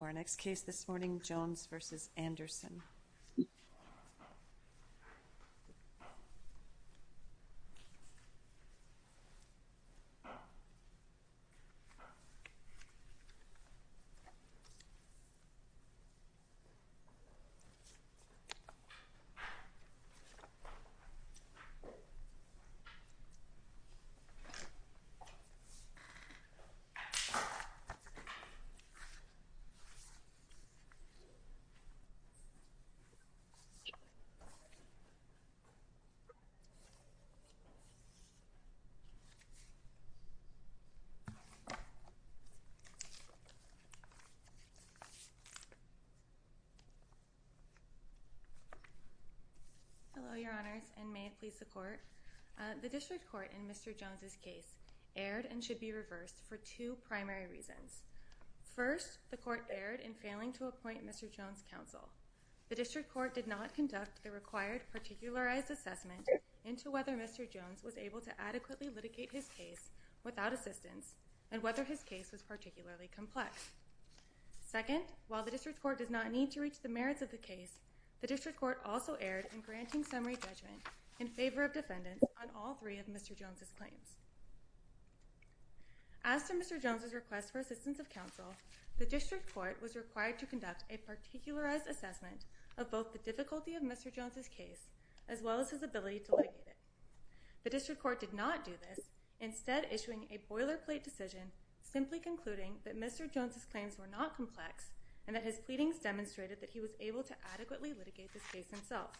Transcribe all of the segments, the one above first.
For our next case this morning, Jones v. Anderson. Hello, Your Honors, and may it please the Court. The District Court in Mr. Jones' case aired and should be reversed for two primary reasons. First, the Court aired in failing to appoint Mr. Jones counsel. The District Court did not conduct the required particularized assessment into whether Mr. Jones was able to adequately litigate his case without assistance and whether his case was particularly complex. Second, while the District Court does not need to reach the merits of the case, the District Court also aired in granting summary judgment in favor of defendants on all three of Mr. Jones' claims. As to Mr. Jones' request for assistance of counsel, the District Court was required to conduct a particularized assessment of both the difficulty of Mr. Jones' case as well as his ability to litigate it. The District Court did not do this, instead issuing a boilerplate decision simply concluding that Mr. Jones' claims were not complex and that his pleadings demonstrated that he was able to adequately litigate this case himself.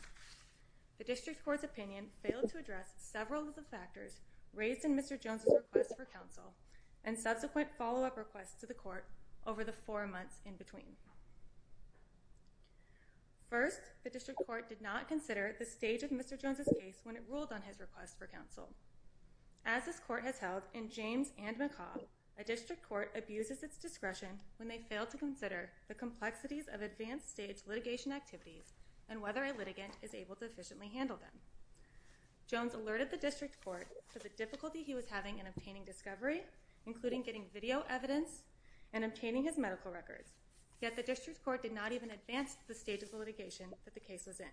The District Court's opinion failed to address several of the factors raised in Mr. Jones' request for counsel and subsequent follow-up requests to the Court over the four months in between. First, the District Court did not consider the stage of Mr. Jones' case when it ruled on his request for counsel. As this Court has held in James and McCaw, a District Court abuses its discretion when they fail to consider the complexities of advanced stage litigation activities and whether a litigant is able to efficiently handle them. Jones alerted the District Court to the difficulty he was having in obtaining discovery, including getting video evidence and obtaining his medical records, yet the District Court did not even advance the stage of the litigation that the case was in.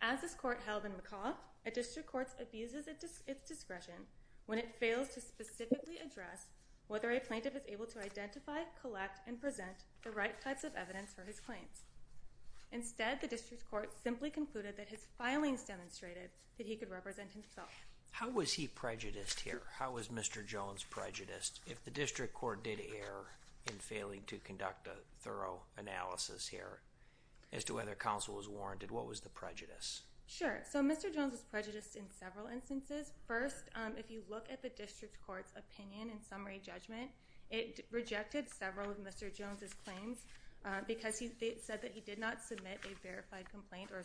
As this Court held in McCaw, a District Court abuses its discretion when it fails to specifically address whether a plaintiff is able to identify, collect, and present the right types of evidence for his claims. Instead, the District Court simply concluded that his filings demonstrated that he could represent himself. How was he prejudiced here? How was Mr. Jones prejudiced? If the District Court did err in failing to conduct a thorough analysis here as to whether counsel was warranted, what was the prejudice? Sure, so Mr. Jones was prejudiced in several instances. First, if you look at the District Court's opinion and summary judgment, it rejected several of Mr. Jones' claims because it said that he did not submit a verified complaint or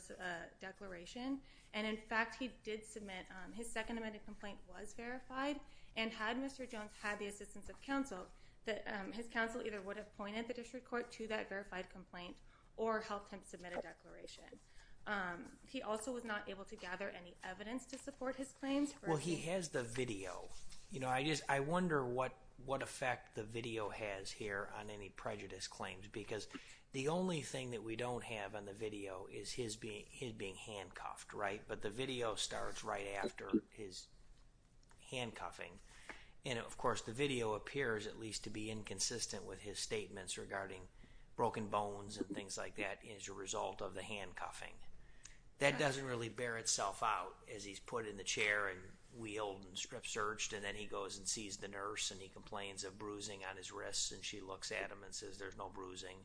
declaration. And in fact, he did submit, his second amended complaint was verified, and had Mr. Jones had the assistance of counsel, his counsel either would have pointed the District Court to that verified complaint or helped him submit a declaration. He also was not able to gather any evidence to support his claims? Well, he has the video. You know, I wonder what effect the video has here on any prejudice claims because the only thing that we don't have on the video is his being handcuffed, right? But the video starts right after his handcuffing. And of course, the video appears at least to be inconsistent with his statements regarding broken bones and things like that as a result of the handcuffing. That doesn't really bear itself out as he's put in the chair and wheeled and strip searched, and then he goes and sees the nurse and he complains of bruising on his wrists, and she looks at him and says, there's no bruising.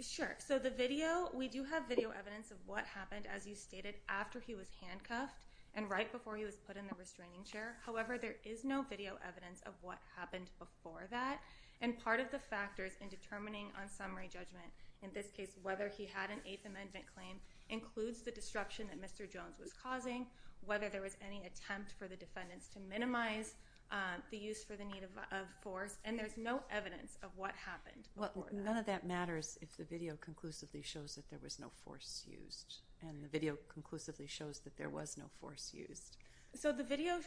Sure, so the video, we do have video evidence of what happened, as you stated, after he was handcuffed and right before he was put in the restraining chair. However, there is no video evidence of what happened before that. And part of the factors in determining on summary judgment, in this case, whether he had an Eighth Amendment claim includes the destruction that Mr. Jones was causing, whether there was any attempt for the defendants to minimize the use for the need of force, and there's no evidence of what happened. None of that matters if the video conclusively shows that there was no force used, and the video conclusively shows that there was no force used. So the video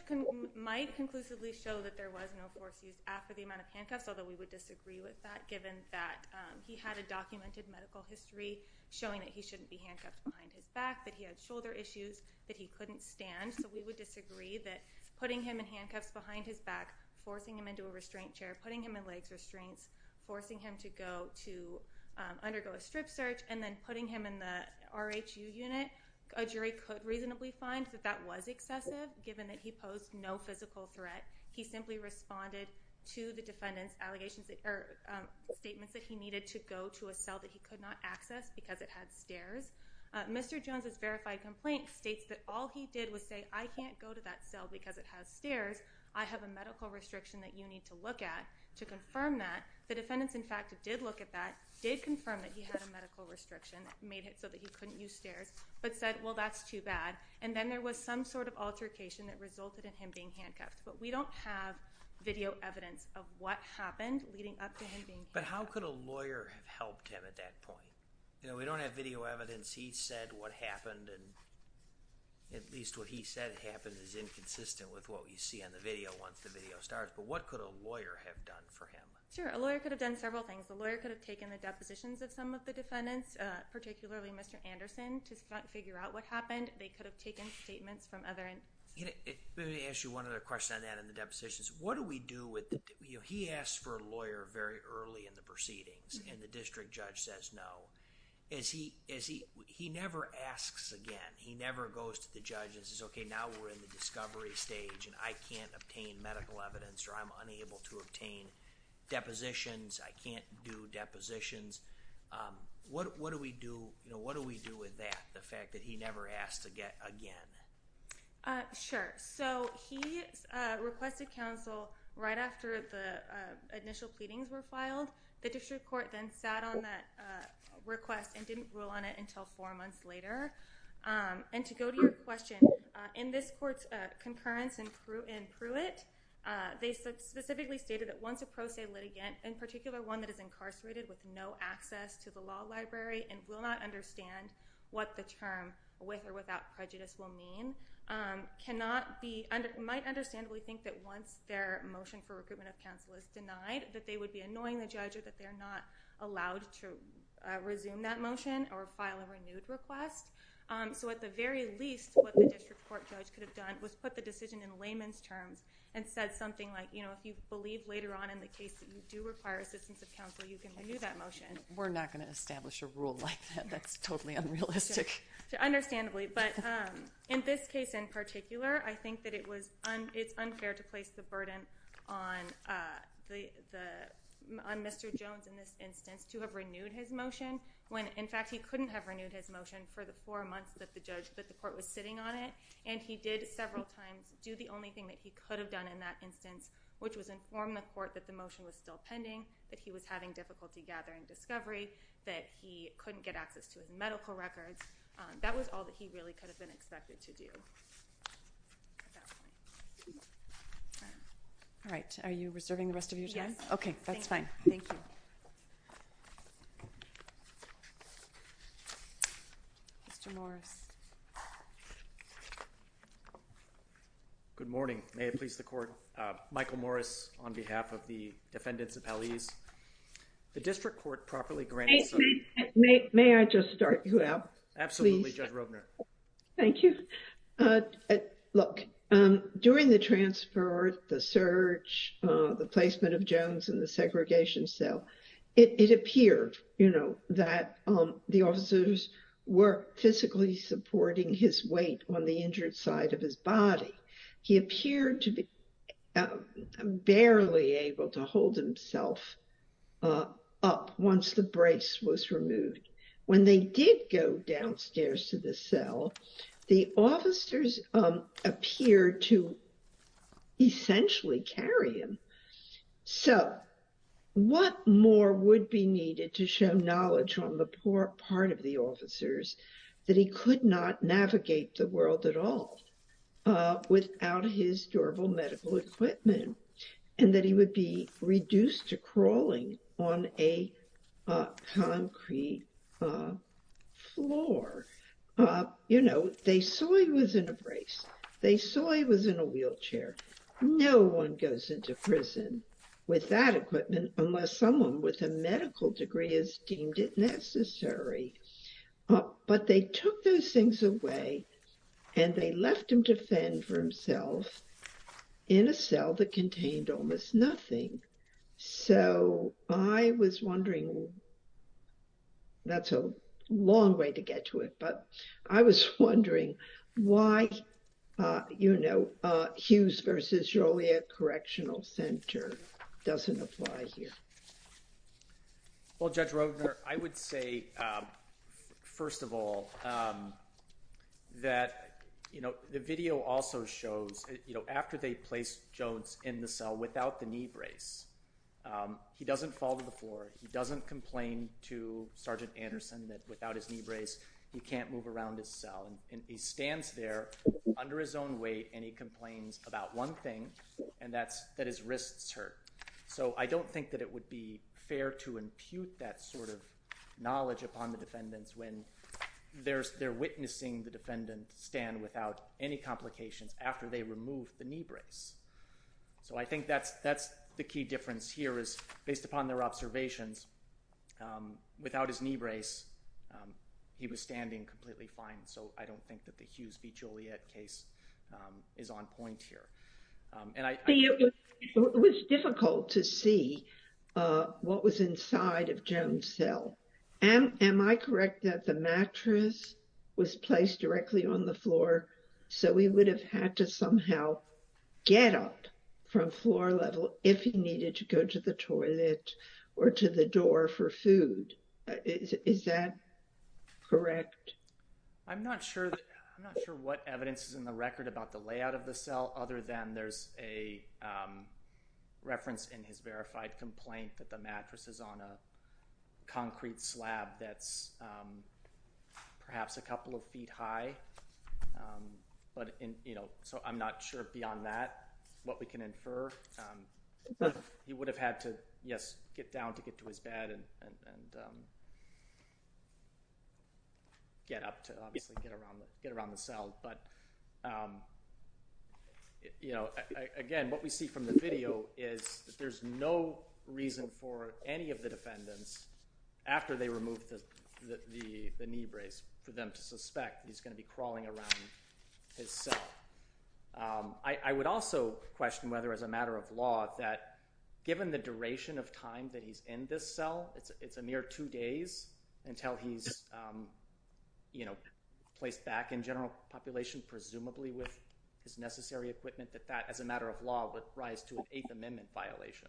might conclusively show that there was no force used after the amount of handcuffs, although we would disagree with that given that he had a documented medical history showing that he shouldn't be handcuffed behind his back, that he had shoulder issues, that he couldn't stand. So we would disagree that putting him in handcuffs behind his back, forcing him into a restraint chair, putting him in legs restraints, forcing him to go to undergo a strip search, and then putting him in the RHU unit, a jury could reasonably find that that was excessive given that he posed no physical threat. He simply responded to the defendant's allegations or statements that he needed to go to a cell that he could not access because it had stairs. Mr. Jones's verified complaint states that all he did was say, I can't go to that cell because it has stairs. I have a medical restriction that you need to look at to confirm that. The defendants, in fact, did look at that, did confirm that he had a medical restriction that made it so that he couldn't use stairs, but said, well, that's too bad, and then there was some sort of altercation that resulted in him being handcuffed, but we don't have video evidence of what happened leading up to him being handcuffed. But how could a lawyer have helped him at that point? You know, we don't have video evidence. He said what happened, and at least what he said happened is inconsistent with what we see on the video once the video starts, but what could a lawyer have done for him? Sure, a lawyer could have done several things. A lawyer could have taken the depositions of some of the defendants, particularly Mr. Anderson, to figure out what happened. They could have taken statements from other... Let me ask you one other question on that and the depositions. What do we do with... He asked for a lawyer very early in the proceedings, and the district judge says no. He never asks again. He never goes to the judge and says, okay, now we're in the discovery stage, and I can't obtain medical evidence, or I'm unable to obtain depositions. I can't do depositions. What do we do with that, the fact that he never asks again? Sure. So he requested counsel right after the initial pleadings were filed. The district court then sat on that request and didn't rule on it until four months later. And to go to your question, in this court's concurrence in Pruitt, they specifically stated that once a pro se litigant, in particular one that is incarcerated with no access to the law library and will not understand what the term with or without prejudice will mean, might understandably think that once their motion for recruitment of counsel is denied, that they would be annoying the judge or that they're not allowed to resume that motion or file a renewed request. So at the very least, what the district court judge could have done was put the decision in layman's terms and said something like, if you believe later on in the case that you do require assistance of counsel, you can renew that motion. We're not going to establish a rule like that. That's totally unrealistic. Understandably. But in this case in particular, I think that it's unfair to place the burden on Mr. Jones in this instance to have renewed his motion when, in fact, he couldn't have renewed his motion for the four months that the court was sitting on it. And he did several times do the only thing that he could have done in that instance, which was inform the gathering discovery, that he couldn't get access to his medical records. That was all that he really could have been expected to do at that point. All right. Are you reserving the rest of your time? Yes. Okay. That's fine. Thank you. Mr. Morris. Good morning. May it please the court. Michael Morris on behalf of the defendants and the municipalities. The district court properly grants. May I just start you out? Absolutely. Judge Rovner. Thank you. Look, during the transfer, the search, the placement of Jones in the segregation cell, it appeared, you know, that the officers were physically supporting his weight on the ground. And that he was able to lift himself up once the brace was removed. When they did go downstairs to the cell, the officers appeared to essentially carry him. So what more would be needed to show knowledge on the poor part of the officers that he could not navigate the world at all without his durable medical equipment. And that he would be reduced to crawling on a concrete floor. You know, they saw he was in a brace. They saw he was in a wheelchair. No one goes into prison with that equipment unless someone with a medical degree has deemed it necessary. But they took those things away and they left him to fend for himself in a cell that contained almost nothing. So I was wondering. That's a long way to get to it, but I was wondering why, you know, Hughes versus Joliet Correctional Well, Judge Roedner, I would say, first of all, that, you know, the video also shows, you know, after they placed Jones in the cell without the knee brace, he doesn't fall to the floor. He doesn't complain to Sergeant Anderson that without his knee brace, he can't move around his cell. And he stands there under his own weight and he complains about one thing, and that's that his wrists hurt. So I don't think that it would be fair to impute that sort of knowledge upon the defendants when they're witnessing the defendant stand without any complications after they remove the knee brace. So I think that's the key difference here is, based upon their observations, without his knee brace, he was standing completely fine. So I don't think that the Hughes v. Joliet case is on point here. It was difficult to see what was inside of Jones' cell. Am I correct that the mattress was placed directly on the floor so he would have had to somehow get up from floor level if he needed to go to the toilet or to the door for food? Is that correct? I'm not sure what evidence is in the record about the layout of the cell other than there's a reference in his verified complaint that the mattress is on a concrete slab that's perhaps a couple of feet high. So I'm not sure beyond that what we can infer. He would have had to, yes, get down to get to his bed and get up to obviously get around the cell. But again, what we see from the video is there's no reason for any of the defendants, after they removed the knee brace, for them to suspect he's going to be crawling around his cell. I would also question whether, as a matter of law, that given the duration of time that he's in this cell, it's a mere two days until he's placed back in general population, presumably with his necessary equipment, that that, as a matter of law, would rise to an amendment violation.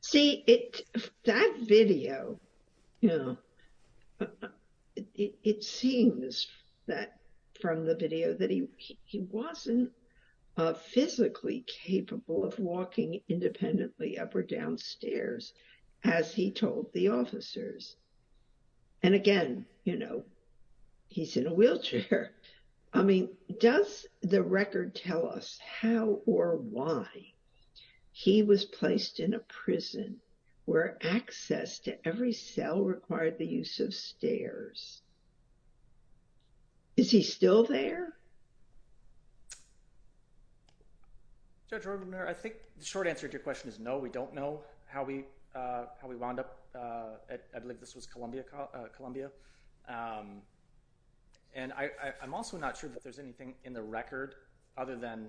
See, that video, it seems that from the video that he wasn't physically capable of walking independently up or down stairs, as he told the officers. And again, he's in a wheelchair. I mean, does the record tell us how or why he was placed in a prison where access to every cell required the use of stairs? Is he still there? Judge Roggeman, I think the short answer to your question is no, we don't know how we I'm also not sure that there's anything in the record other than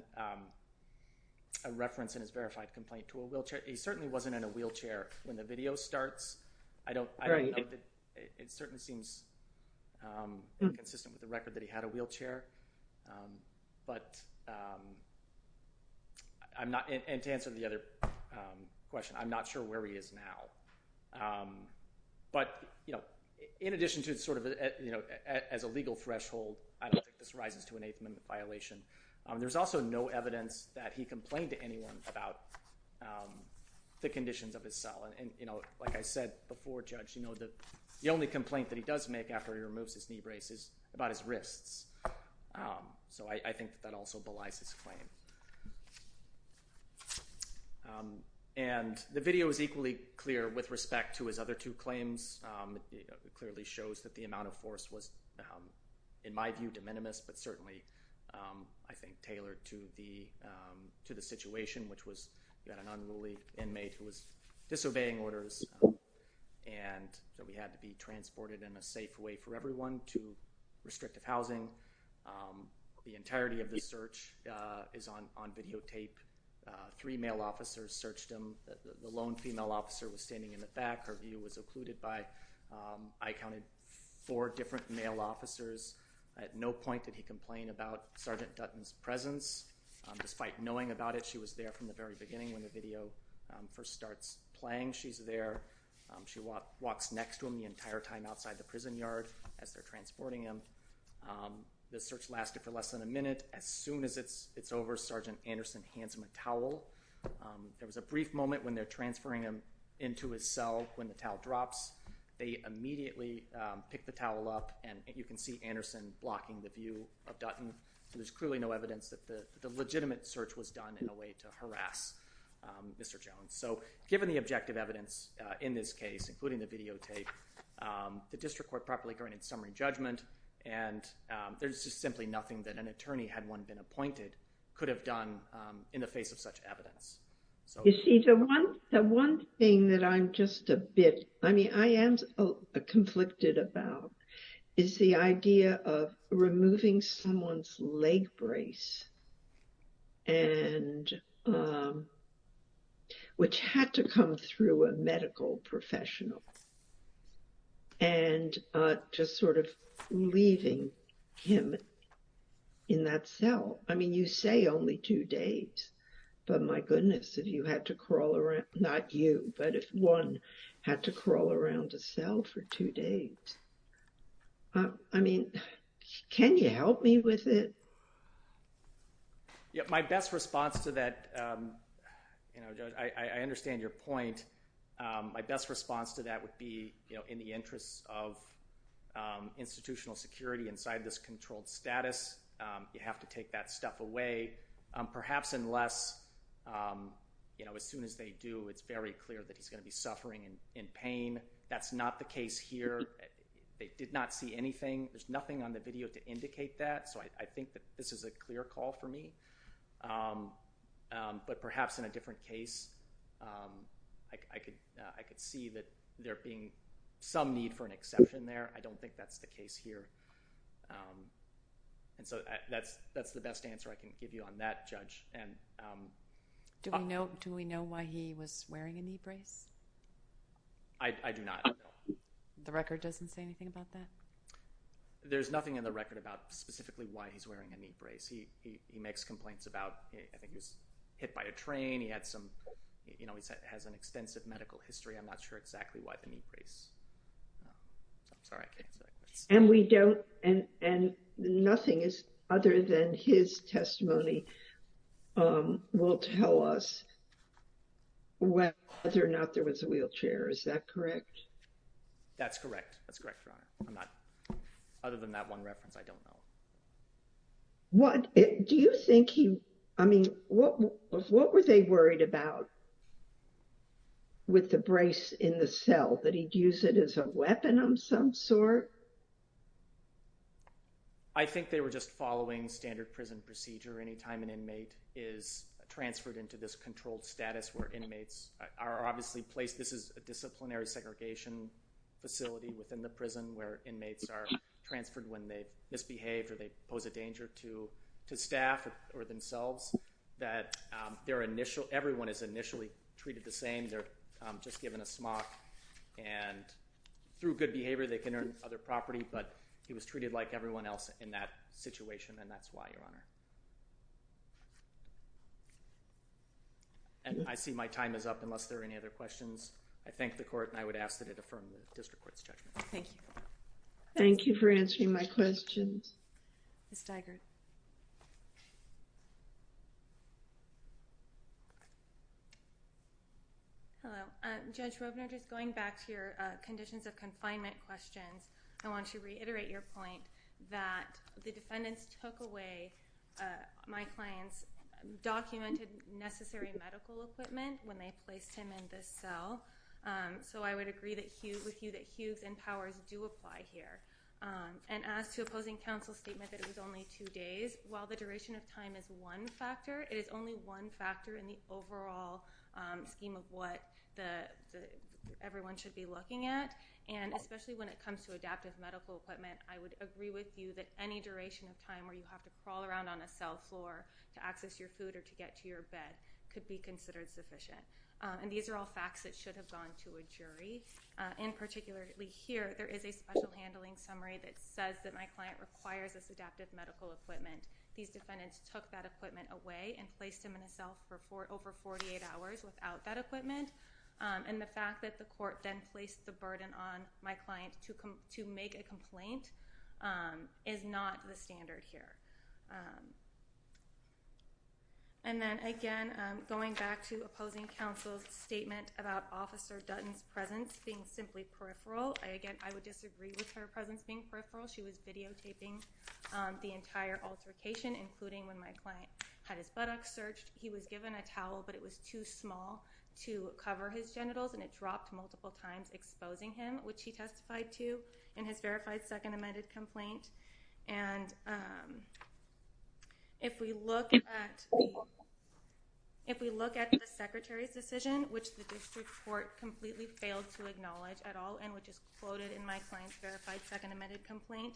a reference in his verified complaint to a wheelchair. He certainly wasn't in a wheelchair when the video starts. I don't know that it certainly seems inconsistent with the record that he had a wheelchair. But I'm not, and to answer the other question, I'm not sure where he is now. But, you know, in addition to sort of, you know, as a legal threshold, I don't think this rises to an eighth amendment violation. There's also no evidence that he complained to anyone about the conditions of his cell. And, you know, like I said before, Judge, you know, the only complaint that he does make after he removes his knee brace is about his wrists. So I think that also belies his claim. And the video is equally clear with respect to his other two claims. It clearly shows that the amount of force was, in my view, de minimis, but certainly, I think, tailored to the situation, which was that an unruly inmate who was disobeying orders and that we had to be transported in a safe way for everyone to restrictive housing. The entirety of the search is on videotape. Three male officers searched him. The lone female officer was standing in the back. Her view was occluded by, I counted, four different male officers. At no point did he complain about Sergeant Dutton's presence. Despite knowing about it, she was there from the very beginning when the video first starts playing. She's there. She walks next to him the entire time outside the prison yard as they're transporting him. The search lasted for less than a minute. As soon as it's over, Sergeant Anderson hands him a towel. There was a brief moment when they're transferring him into his cell when the towel drops. They immediately pick the towel up, and you can see Anderson blocking the view of Dutton. There's clearly no evidence that the legitimate search was done in a way to harass Mr. Jones. So given the objective evidence in this case, including the videotape, the district court properly granted summary judgment, and there's just simply nothing that an attorney, had one been appointed, could have done in the face of such evidence. You see, the one thing that I'm just a bit, I mean, I am conflicted about is the idea of removing someone's leg brace and which had to come through a medical professional and just sort of leaving him in that cell. I mean, you say only two days, but my goodness, if you had to crawl around, not you, but if one had to crawl around a cell for two days. I mean, can you help me with it? Yeah, my best response to that, you know, I understand your point. My best response to that would be, you know, in the interests of institutional security inside this controlled status, you have to take that stuff away. Perhaps unless, you know, as soon as they do, it's very clear that he's going to be suffering in pain. That's not the case here. They did not see anything. There's nothing on the video to indicate that. So I think that this is a clear call for me. But perhaps in a different case, I could see that there being some need for an exception there. I don't think that's the case here. And so that's the best answer I can give you on that, Judge. Do we know why he was wearing a knee brace? I do not. The record doesn't say anything about that? There's nothing in the record about specifically why he's wearing a knee brace. He makes complaints about, I think he was hit by a train. He had some, you know, he has an extensive medical history. I'm not sure exactly why the knee brace. I'm sorry. And we don't, and nothing is other than his testimony will tell us whether or not there was a wheelchair. Is that correct? That's correct. That's correct, Your Honor. Other than that one reference, I don't know. Do you think he, I mean, what were they worried about with the brace in the cell? That he'd use it as a weapon of some sort? I think they were just following standard prison procedure. Anytime an inmate is transferred into this controlled status where inmates are obviously placed, this is a disciplinary segregation facility within the prison where inmates are transferred when they misbehave or they pose a danger to staff or themselves, that their initial, everyone is initially treated the same. They're just given a smock and through good behavior they can earn other property, but he was treated like everyone else in that situation and that's why, Your Honor. And I see my time is up unless there are any other questions. I thank the court and I would ask that it affirm the district court's judgment. Thank you. Thank you for answering my questions. Ms. Steigert. Hello. Judge Robner, just going back to your conditions of confinement questions, I want to reiterate your point that the defendants took away my client's documented necessary medical equipment when they placed him in this cell, so I would agree with you that opposing counsel's statement that it was only two days, while the duration of time is one factor, it is only one factor in the overall scheme of what everyone should be looking at, and especially when it comes to adaptive medical equipment, I would agree with you that any duration of time where you have to crawl around on a cell floor to access your food or to get to your bed could be considered sufficient. And these are all facts that should have gone to a jury. And particularly here, there is a special handling summary that says that my client requires this adaptive medical equipment. These defendants took that equipment away and placed him in a cell for over 48 hours without that equipment, and the fact that the court then placed the burden on my client to make a complaint is not the standard here. And then again, going back to opposing counsel's statement about Officer Dutton's presence being simply peripheral, again, I would disagree with her presence being peripheral. She was videotaping the entire altercation, including when my client had his buttocks searched. He was given a towel, but it was too small to cover his genitals, and it dropped multiple times, exposing him, which he testified to in his verified second amended complaint. And if we look at the Secretary's decision, which the district court completely failed to acknowledge at all and which is quoted in my client's verified second amended complaint,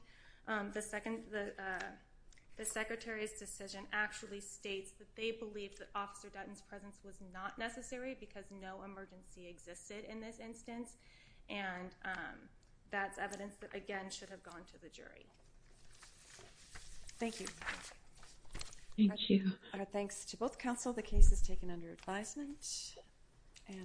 the Secretary's decision actually states that they believe that Officer Dutton's presence was not necessary because no emergency existed in this instance, and that's evidence that again should have gone to the jury. Thank you. Thank you. Our thanks to both counsel. The case is taken under advisement.